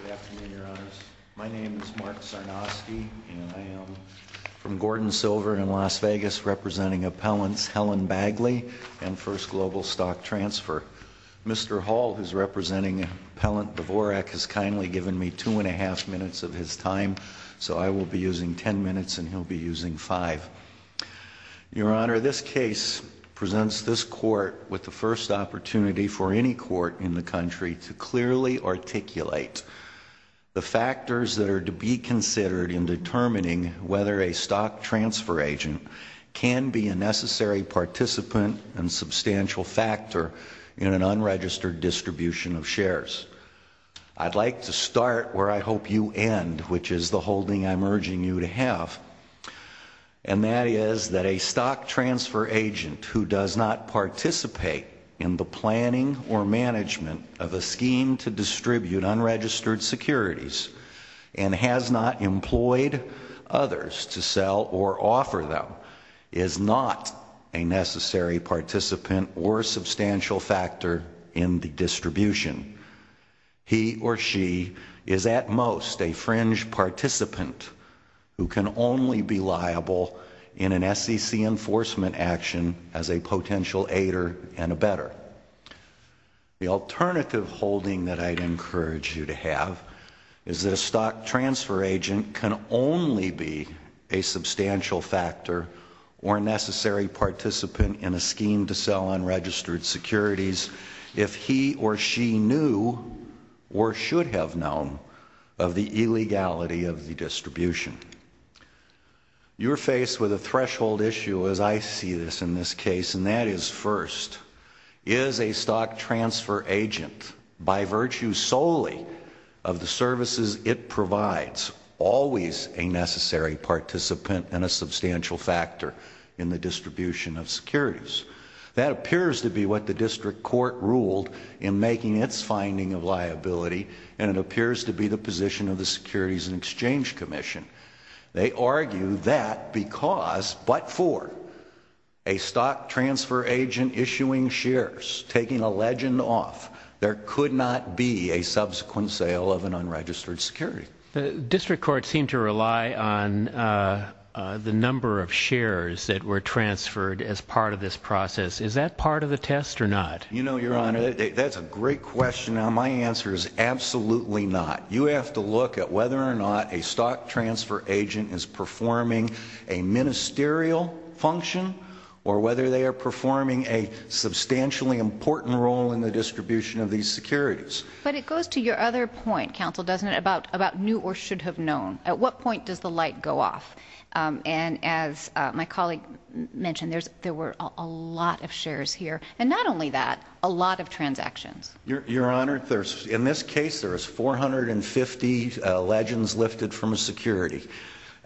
Good afternoon, Your Honors. My name is Mark Czarnoski, and I am from Gordon Silver in Las Vegas, representing Appellants Helen Bagley and 1st Global Stock Transfer. Mr. Hall, who is representing Appellant Dvorak, has kindly given me two and a half minutes of his time, so I will be using ten minutes and he'll be using five. Your Honor, this case presents this Court with the first opportunity for any Court in the country to clearly articulate the factors that are to be considered in determining whether a stock transfer agent can be a necessary participant and substantial factor in an unregistered distribution of shares. I'd like to start where I hope you end, which is the holding I'm urging you to have, and that is that a stock transfer agent who does not participate in the planning or management of a scheme to distribute unregistered securities and has not employed others to sell or offer them is not a necessary participant or substantial factor in the distribution. He or she is at most a fringe participant who can only be liable in an SEC enforcement action as a potential aider and a better. The alternative holding that I'd encourage you to have is that a stock transfer agent can only be a substantial factor or a necessary participant in a scheme to sell unregistered securities if he or she knew or should have known of the illegality of the distribution. You're faced with a threshold issue as I see this in this case, and that is first, is a stock transfer agent, by virtue solely of the services it provides, always a necessary participant and a substantial factor in the distribution of securities? That appears to be what the district court ruled in making its finding of liability, and it appears to be the position of the Securities and Exchange Commission. They argue that because but for a stock transfer agent issuing shares, taking a legend off, there could not be a subsequent sale of an unregistered security. The district court seemed to rely on the number of shares that were transferred as part of this process. Is that part of the test or not? You know, Your Honor, that's a great question. My answer is absolutely not. You have to look at whether or not a stock transfer agent is performing a ministerial function or whether they are performing a substantially important role in the distribution of these securities. But it goes to your other point, Counsel, doesn't it, about knew or should have known. At what point does the light go off? And as my colleague mentioned, there were a lot of shares here, and not only that, a lot of transactions. Your Honor, in this case there was 450 legends lifted from a security.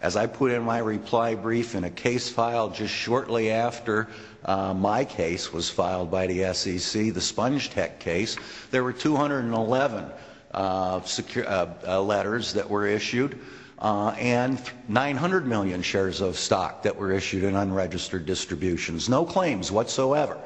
As I put in my reply brief in a case file just shortly after my case was filed by the SEC, the Spongetech case, there were 211 letters that were issued and 900 million shares of stock that were issued in unregistered distributions. No claims whatsoever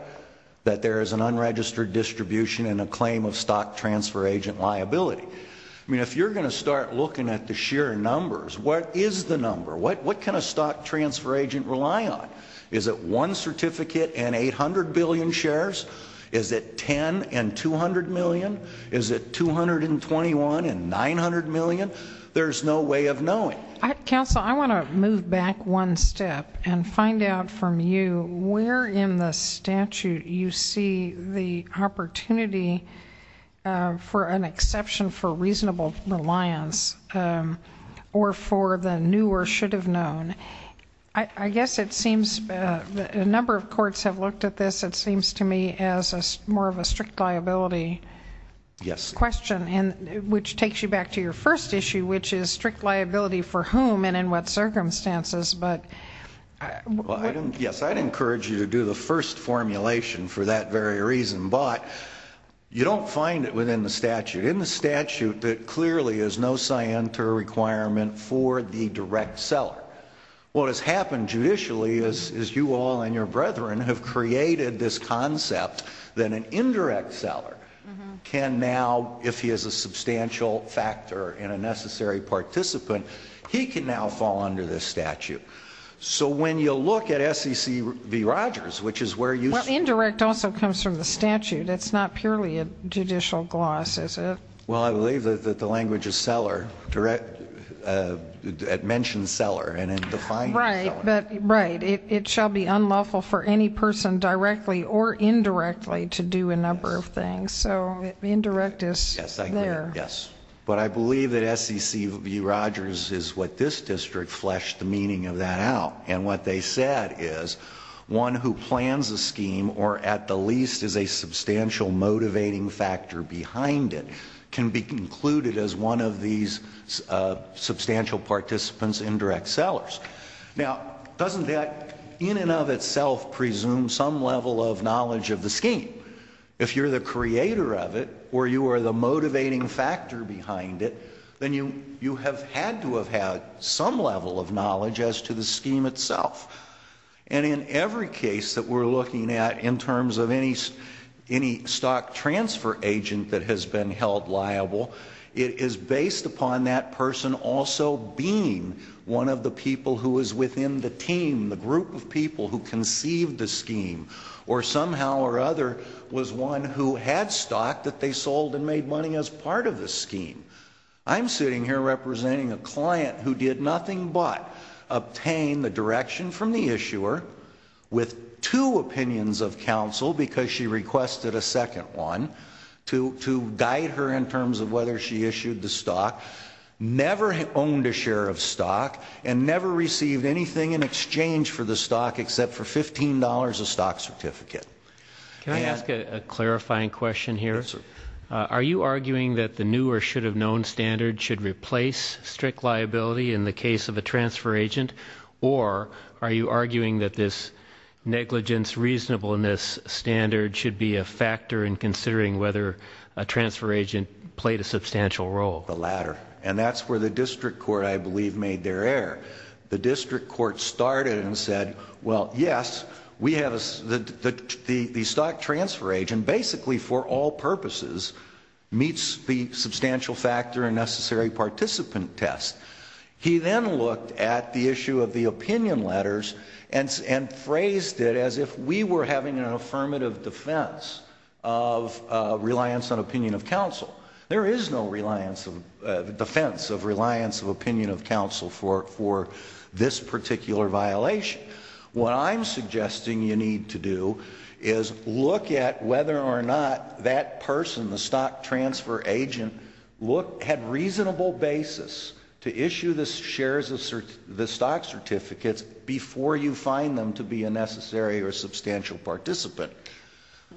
that there is an unregistered distribution and a claim of stock transfer agent liability. I mean, if you're going to start looking at the sheer numbers, what is the number? What can a stock transfer agent rely on? Is it one certificate and 800 billion shares? Is it 10 and 200 million? Is it 221 and 900 million? There's no way of knowing. Counsel, I want to move back one step and find out from you where in the statute you see the opportunity for an exception for reasonable reliance or for the knew or should have known. I guess it seems a number of courts have looked at this, it seems to me, as more of a strict liability question, which takes you back to your first issue, which is strict liability for whom and in what circumstances. Yes, I'd encourage you to do the first formulation for that very reason, but you don't find it within the statute. In the statute, there clearly is no scienter requirement for the direct seller. What has happened judicially is you all and your brethren have created this concept that an indirect seller can now, if he is a substantial factor and a necessary participant, he can now fall under this statute. So when you look at SEC v. Rogers, which is where you see... Well, indirect also comes from the statute. It's not purely a judicial gloss, is it? Well, I believe that the language is seller. It mentions seller and it defines seller. Right, but it shall be unlawful for any person directly or indirectly to do a number of things. So indirect is there. Yes, but I believe that SEC v. Rogers is what this district fleshed the meaning of that out. And what they said is one who plans a scheme or at the least is a substantial motivating factor behind it can be concluded as one of these substantial participants, indirect sellers. Now, doesn't that in and of itself presume some level of knowledge of the scheme? If you're the creator of it or you are the motivating factor behind it, then you have had to have had some level of knowledge as to the scheme itself. And in every case that we're looking at in terms of any stock transfer agent that has been held liable, it is based upon that person also being one of the people who is within the team, the group of people who conceived the scheme or somehow or other was one who had stock that they sold and made money as part of the scheme. I'm sitting here representing a client who did nothing but obtain the direction from the issuer with two opinions of counsel because she requested a second one to guide her in terms of whether she issued the stock, never owned a share of stock, and never received anything in exchange for the stock except for $15 a stock certificate. Can I ask a clarifying question here? Yes, sir. Are you arguing that the new or should have known standard should replace strict liability in the case of a transfer agent or are you arguing that this negligence reasonableness standard should be a factor in considering whether a transfer agent played a substantial role? And that's where the district court, I believe, made their error. The district court started and said, well, yes, we have the stock transfer agent basically for all purposes meets the substantial factor and necessary participant test. He then looked at the issue of the opinion letters and phrased it as if we were having an affirmative defense of reliance on opinion of counsel. There is no defense of reliance of opinion of counsel for this particular violation. What I'm suggesting you need to do is look at whether or not that person, the stock transfer agent, had reasonable basis to issue the shares of the stock certificates before you find them to be a necessary or substantial participant.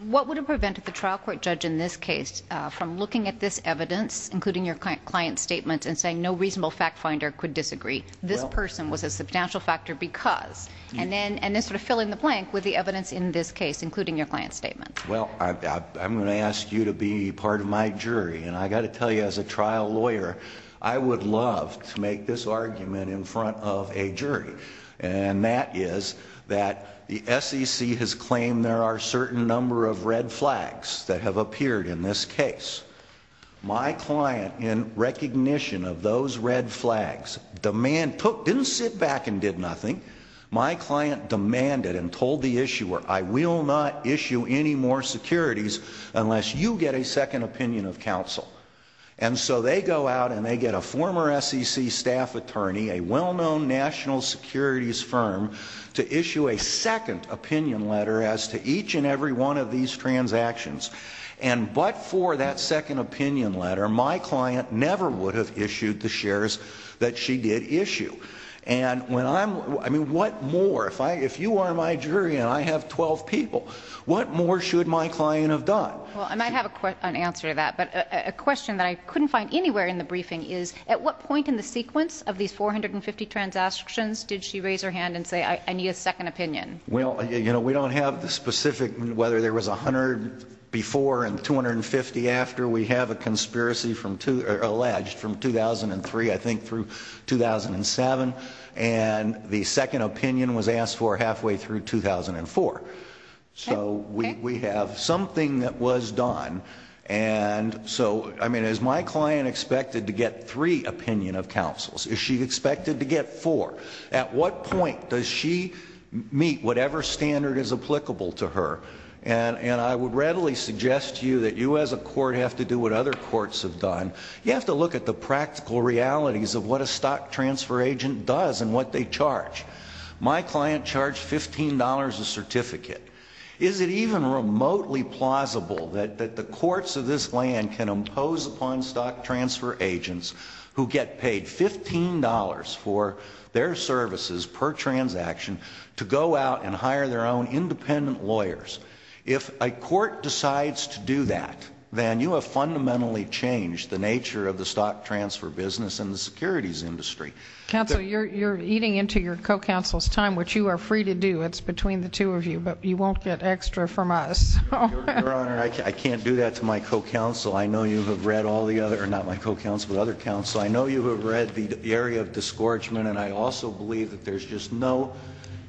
What would have prevented the trial court judge in this case from looking at this evidence, including your client's statement, and saying no reasonable fact finder could disagree? This person was a substantial factor because. And then sort of fill in the blank with the evidence in this case, including your client's statement. Well, I'm going to ask you to be part of my jury. And I got to tell you, as a trial lawyer, I would love to make this argument in front of a jury. And that is that the SEC has claimed there are a certain number of red flags that have appeared in this case. My client, in recognition of those red flags, didn't sit back and did nothing. My client demanded and told the issuer, I will not issue any more securities unless you get a second opinion of counsel. And so they go out and they get a former SEC staff attorney, a well-known national securities firm, to issue a second opinion letter as to each and every one of these transactions. And but for that second opinion letter, my client never would have issued the shares that she did issue. And when I'm, I mean, what more? If you are my jury and I have 12 people, what more should my client have done? Well, I might have an answer to that. But a question that I couldn't find anywhere in the briefing is, at what point in the sequence of these 450 transactions did she raise her hand and say, I need a second opinion? Well, you know, we don't have the specific whether there was 100 before and 250 after. We have a conspiracy from, alleged, from 2003, I think, through 2007. And the second opinion was asked for halfway through 2004. So we have something that was done. And so, I mean, is my client expected to get three opinion of counsels? Is she expected to get four? At what point does she meet whatever standard is applicable to her? And I would readily suggest to you that you as a court have to do what other courts have done. You have to look at the practical realities of what a stock transfer agent does and what they charge. My client charged $15 a certificate. Is it even remotely plausible that the courts of this land can impose upon stock transfer agents who get paid $15 for their services per transaction to go out and hire their own independent lawyers? If a court decides to do that, then you have fundamentally changed the nature of the stock transfer business and the securities industry. Counsel, you're eating into your co-counsel's time, which you are free to do. It's between the two of you, but you won't get extra from us. Your Honor, I can't do that to my co-counsel. I know you have read all the other, not my co-counsel, but other counsel. I know you have read the area of discouragement, and I also believe that there's just no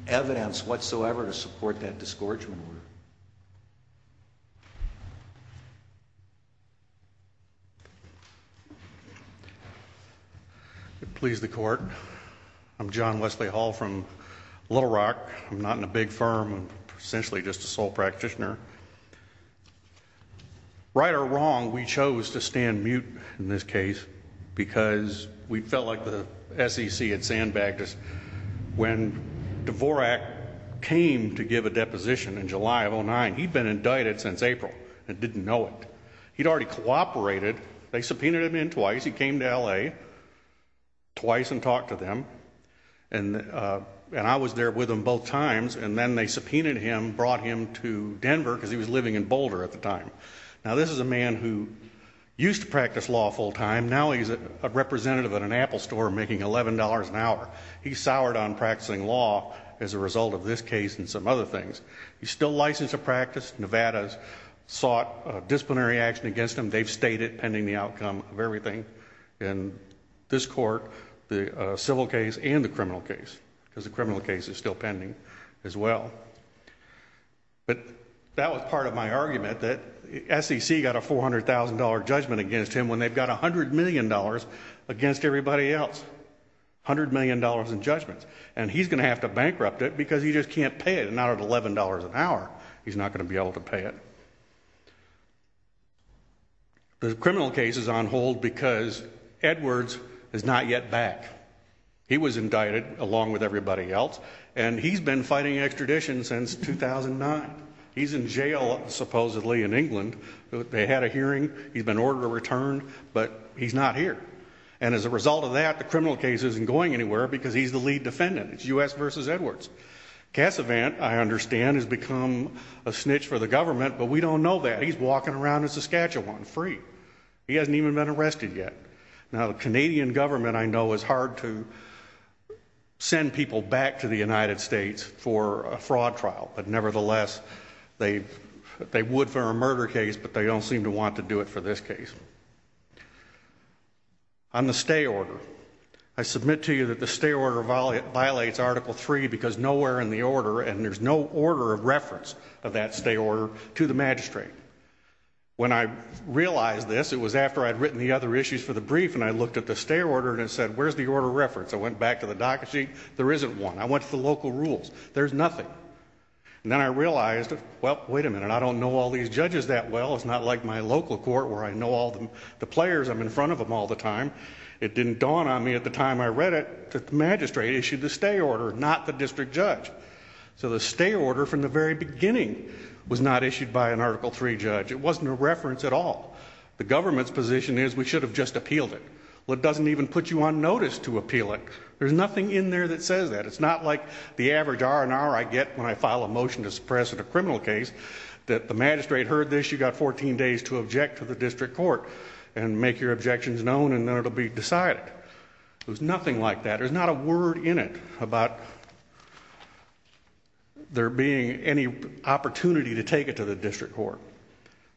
evidence whatsoever to support that discouragement. I'm not in a big firm, I'm essentially just a sole practitioner. Right or wrong, we chose to stand mute in this case because we felt like the SEC had sandbagged us. When Dvorak came to give a deposition in July of 2009, he'd been indicted since April and didn't know it. He'd already cooperated. They subpoenaed him in twice. He came to L.A. twice and talked to them, and I was there with him both times. And then they subpoenaed him, brought him to Denver because he was living in Boulder at the time. Now, this is a man who used to practice law full-time. Now he's a representative at an Apple store making $11 an hour. He's soured on practicing law as a result of this case and some other things. He's still licensed to practice. Nevada's sought disciplinary action against him. They've stayed it pending the outcome of everything in this court, the civil case and the criminal case, because the criminal case is still pending as well. But that was part of my argument that SEC got a $400,000 judgment against him when they've got $100 million against everybody else, $100 million in judgments. And he's going to have to bankrupt it because he just can't pay it. Not at $11 an hour, he's not going to be able to pay it. The criminal case is on hold because Edwards is not yet back. He was indicted along with everybody else, and he's been fighting extradition since 2009. He's in jail supposedly in England. They had a hearing. He's been ordered to return, but he's not here. And as a result of that, the criminal case isn't going anywhere because he's the lead defendant. It's U.S. v. Edwards. Cassavant, I understand, has become a snitch for the government, but we don't know that. He's walking around in Saskatchewan free. He hasn't even been arrested yet. Now, the Canadian government, I know, is hard to send people back to the United States for a fraud trial, but nevertheless, they would for a murder case, but they don't seem to want to do it for this case. On the stay order, I submit to you that the stay order violates Article III because nowhere in the order, and there's no order of reference of that stay order to the magistrate. When I realized this, it was after I'd written the other issues for the brief, and I looked at the stay order and said, where's the order of reference? I went back to the docket sheet. There isn't one. I went to the local rules. There's nothing. And then I realized, well, wait a minute, I don't know all these judges that well. It's not like my local court where I know all the players. I'm in front of them all the time. It didn't dawn on me at the time I read it that the magistrate issued the stay order, not the district judge. So the stay order from the very beginning was not issued by an Article III judge. It wasn't a reference at all. The government's position is we should have just appealed it. Well, it doesn't even put you on notice to appeal it. There's nothing in there that says that. It's not like the average R&R I get when I file a motion to suppress a criminal case, that the magistrate heard this, you've got 14 days to object to the district court and make your objections known and then it'll be decided. There's nothing like that. There's not a word in it about there being any opportunity to take it to the district court.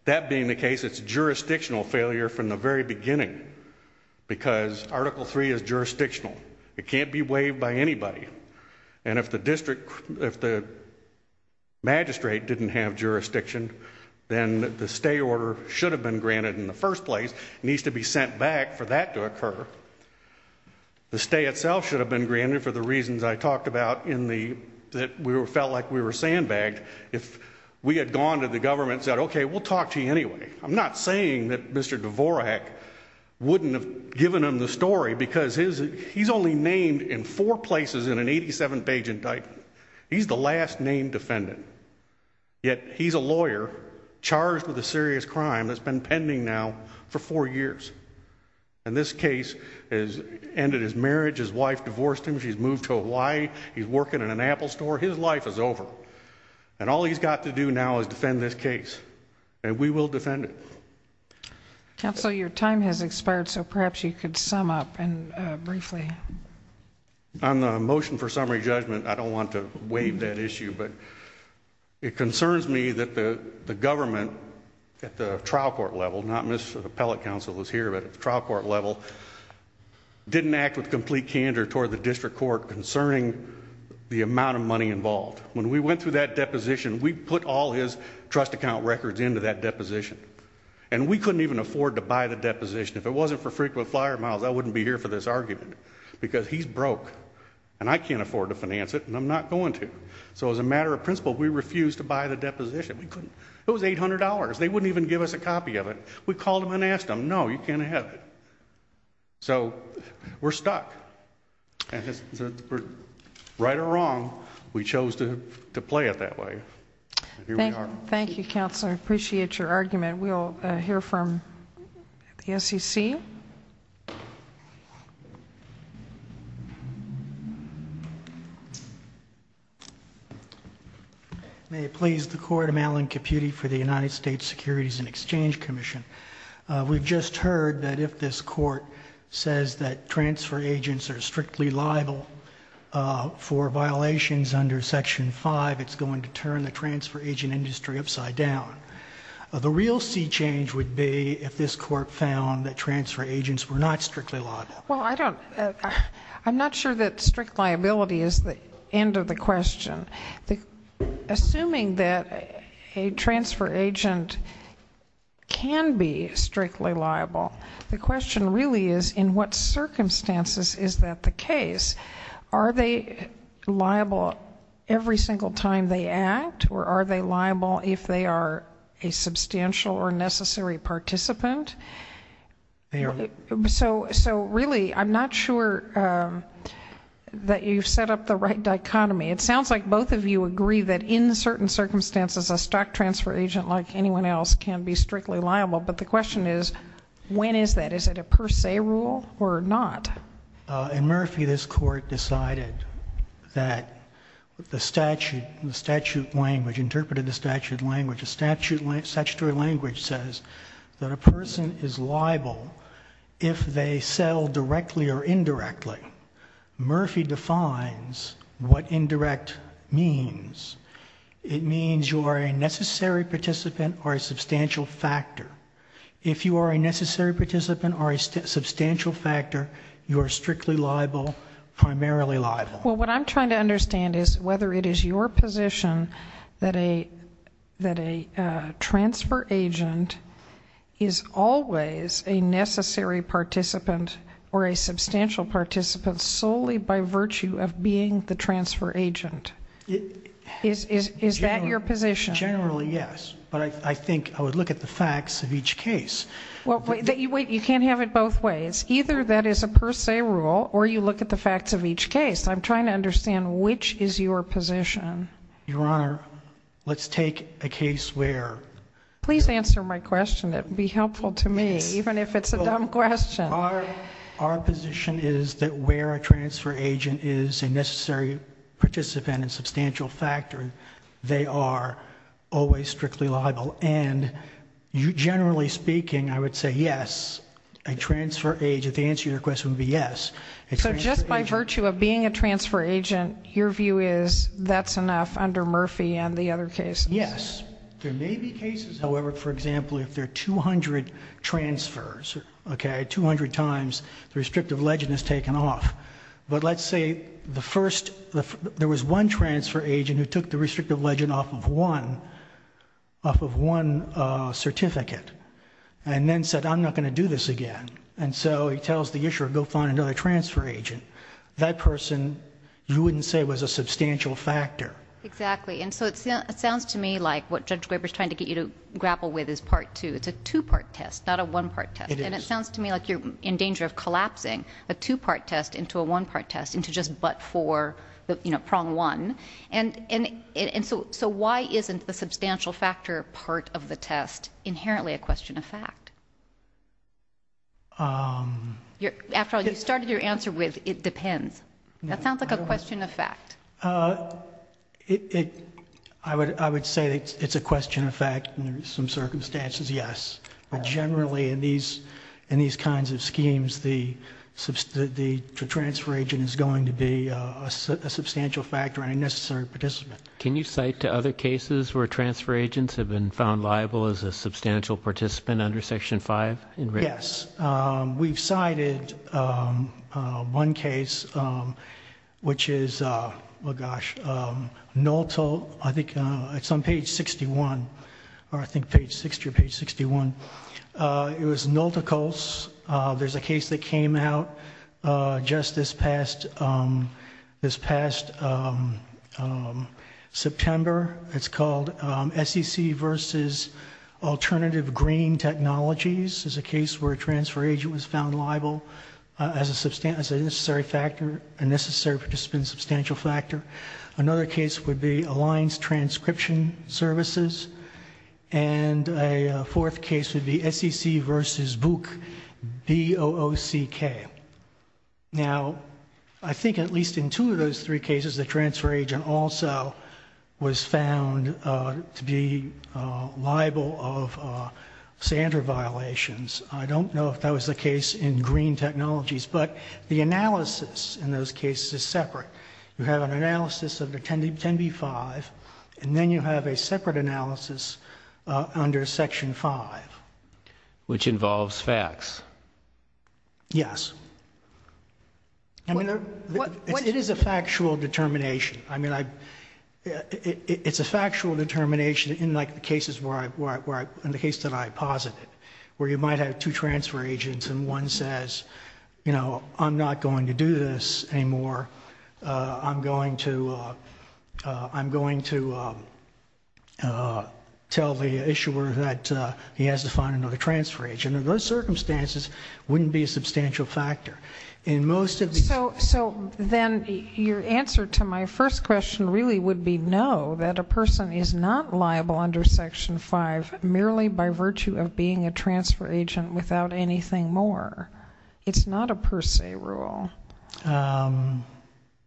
That being the case, it's jurisdictional failure from the very beginning because Article III is jurisdictional. It can't be waived by anybody. And if the magistrate didn't have jurisdiction, then the stay order should have been granted in the first place. It needs to be sent back for that to occur. The stay itself should have been granted for the reasons I talked about that we felt like we were sandbagged if we had gone to the government and said, okay, we'll talk to you anyway. I'm not saying that Mr. Dvorak wouldn't have given them the story because he's only named in four places in an 87-page indictment. He's the last named defendant. Yet he's a lawyer charged with a serious crime that's been pending now for four years. And this case has ended his marriage. His wife divorced him. She's moved to Hawaii. He's working in an Apple store. His life is over. And all he's got to do now is defend this case. And we will defend it. Counsel, your time has expired, so perhaps you could sum up briefly. On the motion for summary judgment, I don't want to waive that issue, but it concerns me that the government at the trial court level, not Mr. Appellate Counsel is here, but at the trial court level didn't act with complete candor toward the district court concerning the amount of money involved. When we went through that deposition, we put all his trust account records into that deposition. And we couldn't even afford to buy the deposition. If it wasn't for frequent flyer miles, I wouldn't be here for this argument. Because he's broke. And I can't afford to finance it, and I'm not going to. So as a matter of principle, we refused to buy the deposition. It was $800. They wouldn't even give us a copy of it. We called him and asked him. No, you can't have it. So we're stuck. Right or wrong, we chose to play it that way. Thank you, Counselor. I appreciate your argument. We'll hear from the SEC. May it please the Court, I'm Alan Caputi for the United States Securities and Exchange Commission. We've just heard that if this court says that transfer agents are strictly liable for violations under Section 5, it's going to turn the transfer agent industry upside down. The real sea change would be if this court found that transfer agents were not strictly liable. Well, I'm not sure that strict liability is the end of the question. Assuming that a transfer agent can be strictly liable, the question really is in what circumstances is that the case? Are they liable every single time they act, or are they liable if they are a substantial or necessary participant? So really, I'm not sure that you've set up the right dichotomy. It sounds like both of you agree that in certain circumstances, a stock transfer agent like anyone else can be strictly liable, but the question is when is that? Is it a per se rule or not? In Murphy, this court decided that the statute language, interpreted the statute language, the statutory language says that a person is liable if they sell directly or indirectly. Murphy defines what indirect means. It means you are a necessary participant or a substantial factor. If you are a necessary participant or a substantial factor, you are strictly liable, primarily liable. Well, what I'm trying to understand is whether it is your position that a transfer agent is always a necessary participant or a substantial participant solely by virtue of being the transfer agent. Is that your position? Generally, yes. But I think I would look at the facts of each case. Wait, you can't have it both ways. Either that is a per se rule or you look at the facts of each case. I'm trying to understand which is your position. Your Honor, let's take a case where... Please answer my question. It would be helpful to me, even if it's a dumb question. Our position is that where a transfer agent is a necessary participant and substantial factor, they are always strictly liable. Generally speaking, I would say yes. A transfer agent, the answer to your question would be yes. So just by virtue of being a transfer agent, your view is that's enough under Murphy and the other cases? Yes. There may be cases, however, for example, if there are 200 transfers, 200 times the restrictive legend is taken off. But let's say the first... There was one transfer agent who took the restrictive legend off of one certificate and then said, I'm not going to do this again. And so he tells the issuer, go find another transfer agent. That person, you wouldn't say was a substantial factor. Exactly. And so it sounds to me like what Judge Graber is trying to get you to grapple with is part two. It's a two-part test, not a one-part test. It is. It sounds to me like you're in danger of collapsing a two-part test into a one-part test, into just but for the prong one. And so why isn't the substantial factor part of the test inherently a question of fact? After all, you started your answer with it depends. That sounds like a question of fact. I would say it's a question of fact in some circumstances, yes. But generally in these kinds of schemes, the transfer agent is going to be a substantial factor and a necessary participant. Can you cite other cases where transfer agents have been found liable as a substantial participant under Section 5? Yes. We've cited one case which is, oh, gosh, Nolto, I think it's on page 61, or I think page 60 or page 61. It was Nolto Colts. There's a case that came out just this past September. It's called SEC versus alternative green technologies. It's a case where a transfer agent was found liable as a necessary factor, a necessary participant substantial factor. Another case would be Alliance Transcription Services. And a fourth case would be SEC versus BOOC, B-O-O-C-K. Now, I think at least in two of those three cases, the transfer agent also was found to be liable of standard violations. I don't know if that was the case in green technologies. But the analysis in those cases is separate. You have an analysis of the 10B-5, and then you have a separate analysis under Section 5. Which involves facts. Yes. It is a factual determination. It's a factual determination in the cases that I posited, where you might have two transfer agents and one says, you know, I'm not going to do this anymore. I'm going to tell the issuer that he has to find another transfer agent. And in those circumstances, it wouldn't be a substantial factor. So then your answer to my first question really would be no, that a person is not liable under Section 5, merely by virtue of being a transfer agent without anything more. It's not a per se rule.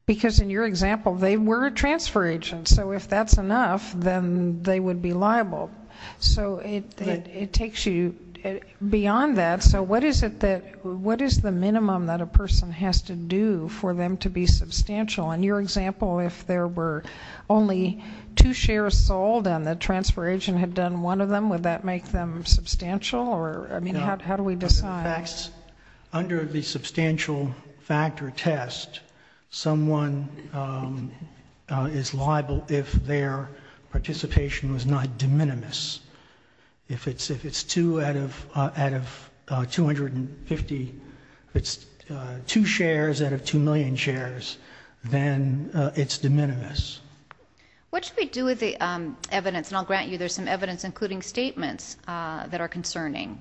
Because in your example, they were a transfer agent. So if that's enough, then they would be liable. So it takes you beyond that. So what is the minimum that a person has to do for them to be substantial? In your example, if there were only two shares sold and the transfer agent had done one of them, would that make them substantial? I mean, how do we decide? Under the substantial factor test, someone is liable if their participation was not de minimis. If it's two out of 250, if it's two shares out of 2 million shares, then it's de minimis. What should we do with the evidence? And I'll grant you there's some evidence, including statements, that are concerning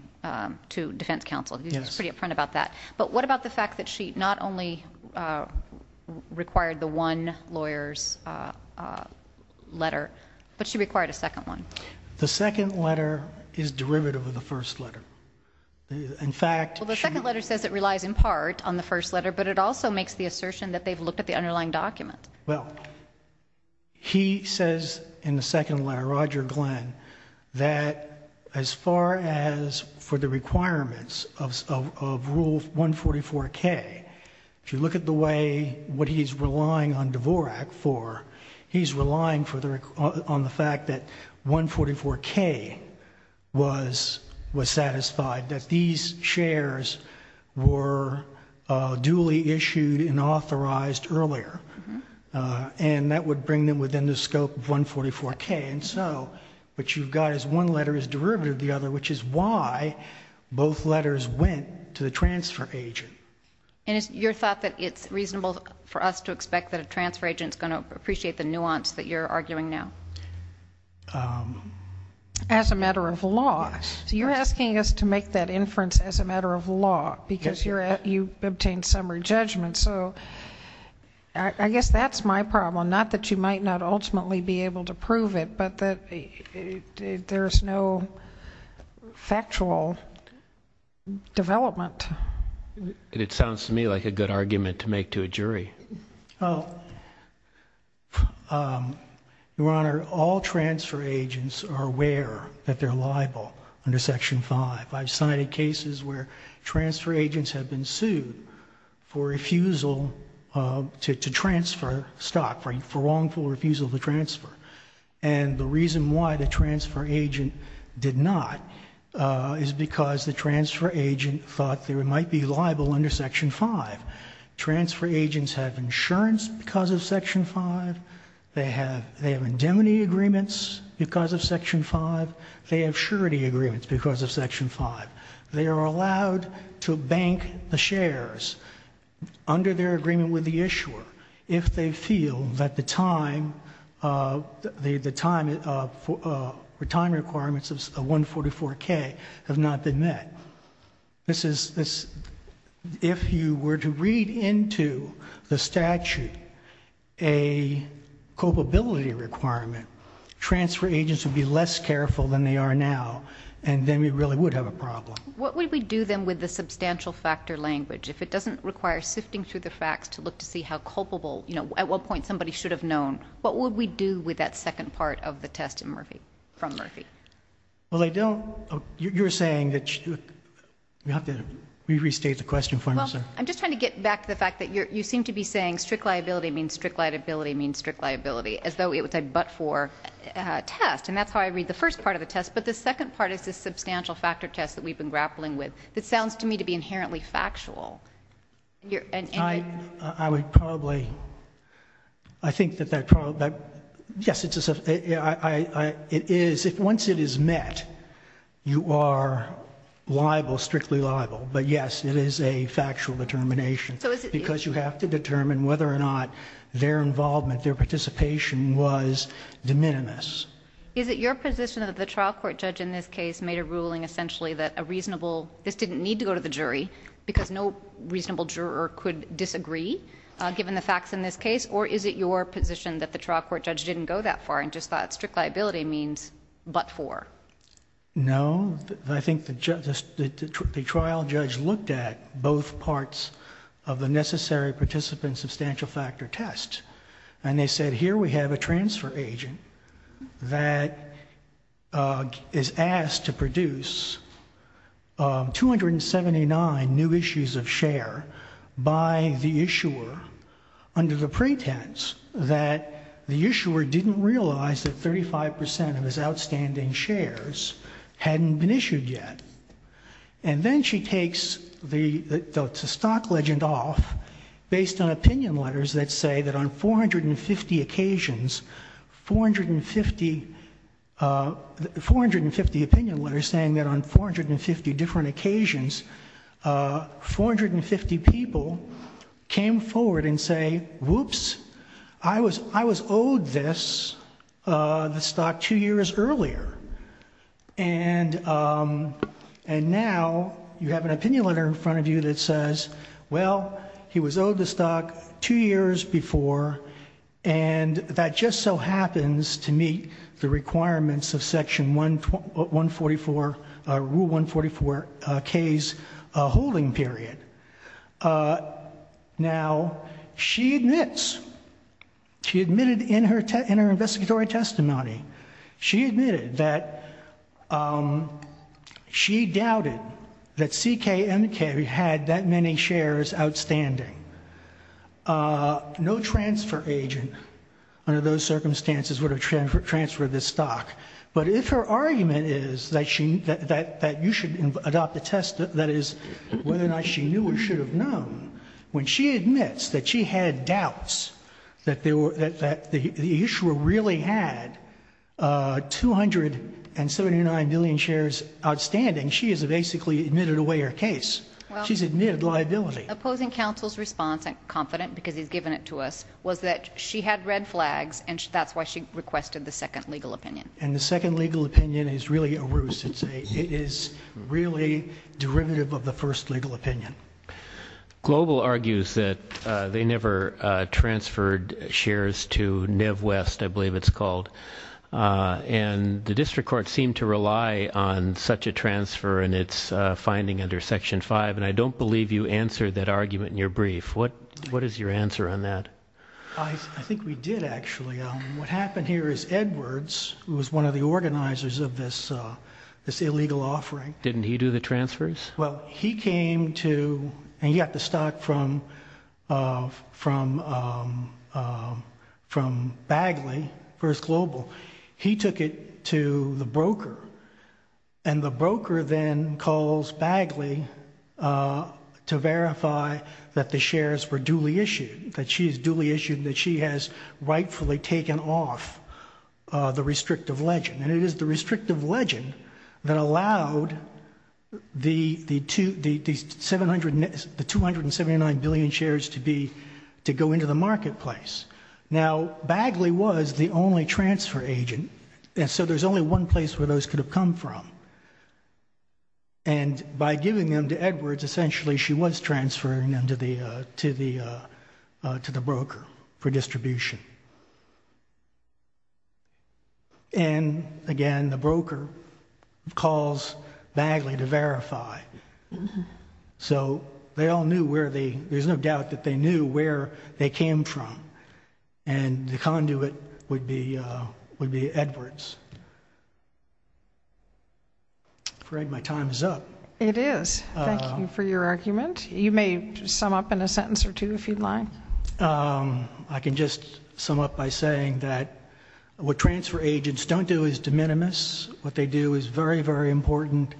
to defense counsel. You were pretty upfront about that. But what about the fact that she not only required the one lawyer's letter, but she required a second one? The second letter is derivative of the first letter. Well, the second letter says it relies in part on the first letter, but it also makes the assertion that they've looked at the underlying document. Well, he says in the second letter, Roger Glenn, that as far as for the requirements of Rule 144K, if you look at what he's relying on Dvorak for, he's relying on the fact that 144K was satisfied, that these shares were duly issued and authorized earlier. And that would bring them within the scope of 144K. And so what you've got is one letter is derivative of the other, which is why both letters went to the transfer agent. And is your thought that it's reasonable for us to expect that a transfer agent is going to appreciate the nuance that you're arguing now? As a matter of law. You're asking us to make that inference as a matter of law, because you obtained summary judgment. So I guess that's my problem, not that you might not ultimately be able to prove it, but that there's no factual development. It sounds to me like a good argument to make to a jury. Well, Your Honor, all transfer agents are aware that they're liable under Section 5. I've cited cases where transfer agents have been sued for refusal to transfer stock, for wrongful refusal to transfer. And the reason why the transfer agent did not is because the transfer agent thought they might be liable under Section 5. Transfer agents have insurance because of Section 5. They have indemnity agreements because of Section 5. They have surety agreements because of Section 5. They are allowed to bank the shares under their agreement with the issuer if they feel that the time requirements of 144K have not been met. If you were to read into the statute a culpability requirement, transfer agents would be less careful than they are now, and then we really would have a problem. What would we do then with the substantial factor language? If it doesn't require sifting through the facts to look to see how culpable at what point somebody should have known, what would we do with that second part of the test from Murphy? Well, they don't. You're saying that you have to restate the question for me, sir. Well, I'm just trying to get back to the fact that you seem to be saying strict liability means strict liability means strict liability, as though it was a but-for test. And that's how I read the first part of the test. But the second part is this substantial factor test that we've been grappling with that sounds to me to be inherently factual. I would probably... I think that... Yes, it is. Once it is met, you are liable, strictly liable. But yes, it is a factual determination because you have to determine whether or not their involvement, their participation was de minimis. Is it your position that the trial court judge in this case made a ruling essentially that a reasonable... this didn't need to go to the jury because no reasonable juror could disagree, given the facts in this case? Or is it your position that the trial court judge didn't go that far and just thought strict liability means but-for? No. I think the trial judge looked at both parts of the necessary participant substantial factor test and they said, Here we have a transfer agent that is asked to produce 279 new issues of share by the issuer under the pretense that the issuer didn't realize that 35% of his outstanding shares hadn't been issued yet. And then she takes the stock legend off based on opinion letters that say that on 450 occasions, 450 opinion letters saying that on 450 different occasions, 450 people came forward and say, Whoops, I was owed this, the stock, two years earlier. And now you have an opinion letter in front of you that says, Well, he was owed the stock two years before, and that just so happens to meet the requirements of Section 144, Rule 144K's holding period. Now, she admits, she admitted in her investigatory testimony, she admitted that she doubted that CKMK had that many shares outstanding. No transfer agent under those circumstances would have transferred this stock. But if her argument is that you should adopt the test, that is, whether or not she knew or should have known, when she admits that she had doubts that the issuer really had 279 million shares outstanding, she has basically admitted away her case. She's admitted liability. Opposing counsel's response, I'm confident because he's given it to us, was that she had red flags, and that's why she requested the second legal opinion. And the second legal opinion is really a ruse. It is really derivative of the first legal opinion. Global argues that they never transferred shares to Neve West, I believe it's called, and the district court seemed to rely on such a transfer in its finding under Section 5, and I don't believe you answered that argument in your brief. What is your answer on that? I think we did, actually. What happened here is Edwards, who was one of the organizers of this illegal offering. Didn't he do the transfers? Well, he came to, and he got the stock from Bagley, First Global. He took it to the broker, and the broker then calls Bagley to verify that the shares were duly issued, that she is duly issued and that she has rightfully taken off the restrictive legend. That allowed the 279 billion shares to go into the marketplace. Now, Bagley was the only transfer agent, and so there's only one place where those could have come from. And by giving them to Edwards, essentially she was transferring them to the broker for distribution. And, again, the broker calls Bagley to verify. So they all knew where they, there's no doubt that they knew where they came from, and the conduit would be Edwards. I'm afraid my time is up. It is. Thank you for your argument. You may sum up in a sentence or two, if you'd like. I can just sum up by saying that what transfer agents don't do is de minimis. What they do is very, very important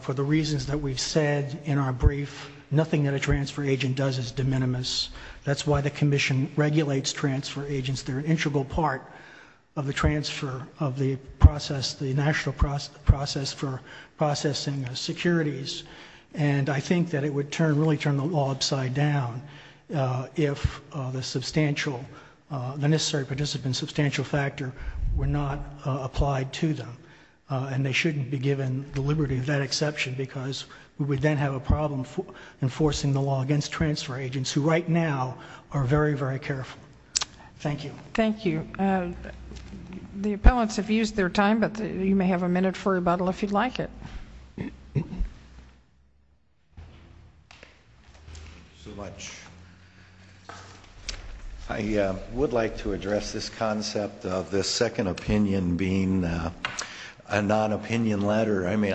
for the reasons that we've said in our brief. Nothing that a transfer agent does is de minimis. That's why the Commission regulates transfer agents. They're an integral part of the transfer of the process, the national process for processing securities. And I think that it would really turn the law upside down if the substantial, the necessary participant substantial factor were not applied to them. And they shouldn't be given the liberty of that exception because we would then have a problem enforcing the law against transfer agents, who right now are very, very careful. Thank you. Thank you. The appellants have used their time, but you may have a minute for rebuttal if you'd like it. Thank you so much. I would like to address this concept of the second opinion being a non-opinion letter. I mean,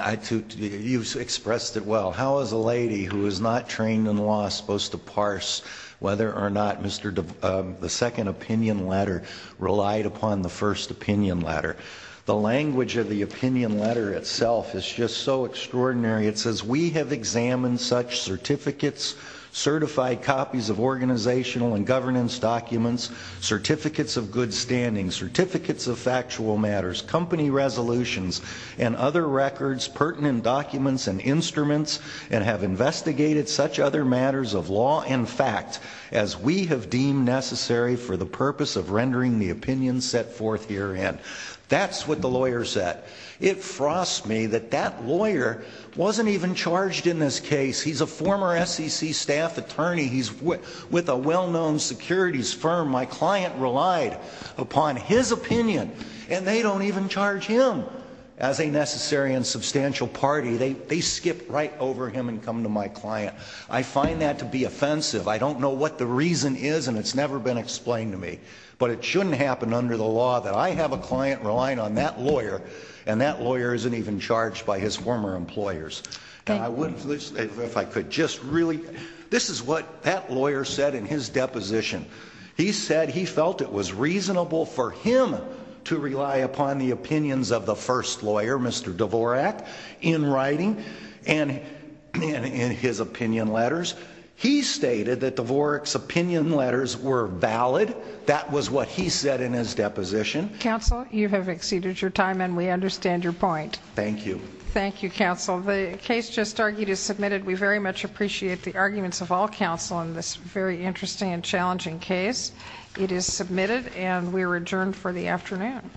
you expressed it well. How is a lady who is not trained in law supposed to parse whether or not the second opinion letter relied upon the first opinion letter? The language of the opinion letter itself is just so extraordinary. It says, we have examined such certificates, certified copies of organizational and governance documents, certificates of good standing, certificates of factual matters, company resolutions, and other records, pertinent documents and instruments, and have investigated such other matters of law and fact as we have deemed necessary for the purpose of rendering the opinion set forth herein. That's what the lawyer said. It frosts me that that lawyer wasn't even charged in this case. He's a former SEC staff attorney. He's with a well-known securities firm. My client relied upon his opinion, and they don't even charge him as a necessary and substantial party. They skip right over him and come to my client. I find that to be offensive. I don't know what the reason is, and it's never been explained to me, but it shouldn't happen under the law that I have a client relying on that lawyer, and that lawyer isn't even charged by his former employers. If I could just really, this is what that lawyer said in his deposition. He said he felt it was reasonable for him to rely upon the opinions of the first lawyer, Mr. Dvorak, in writing and in his opinion letters. He stated that Dvorak's opinion letters were valid. That was what he said in his deposition. Counsel, you have exceeded your time, and we understand your point. Thank you. Thank you, counsel. The case just argued is submitted. We very much appreciate the arguments of all counsel in this very interesting and challenging case. It is submitted, and we are adjourned for the afternoon.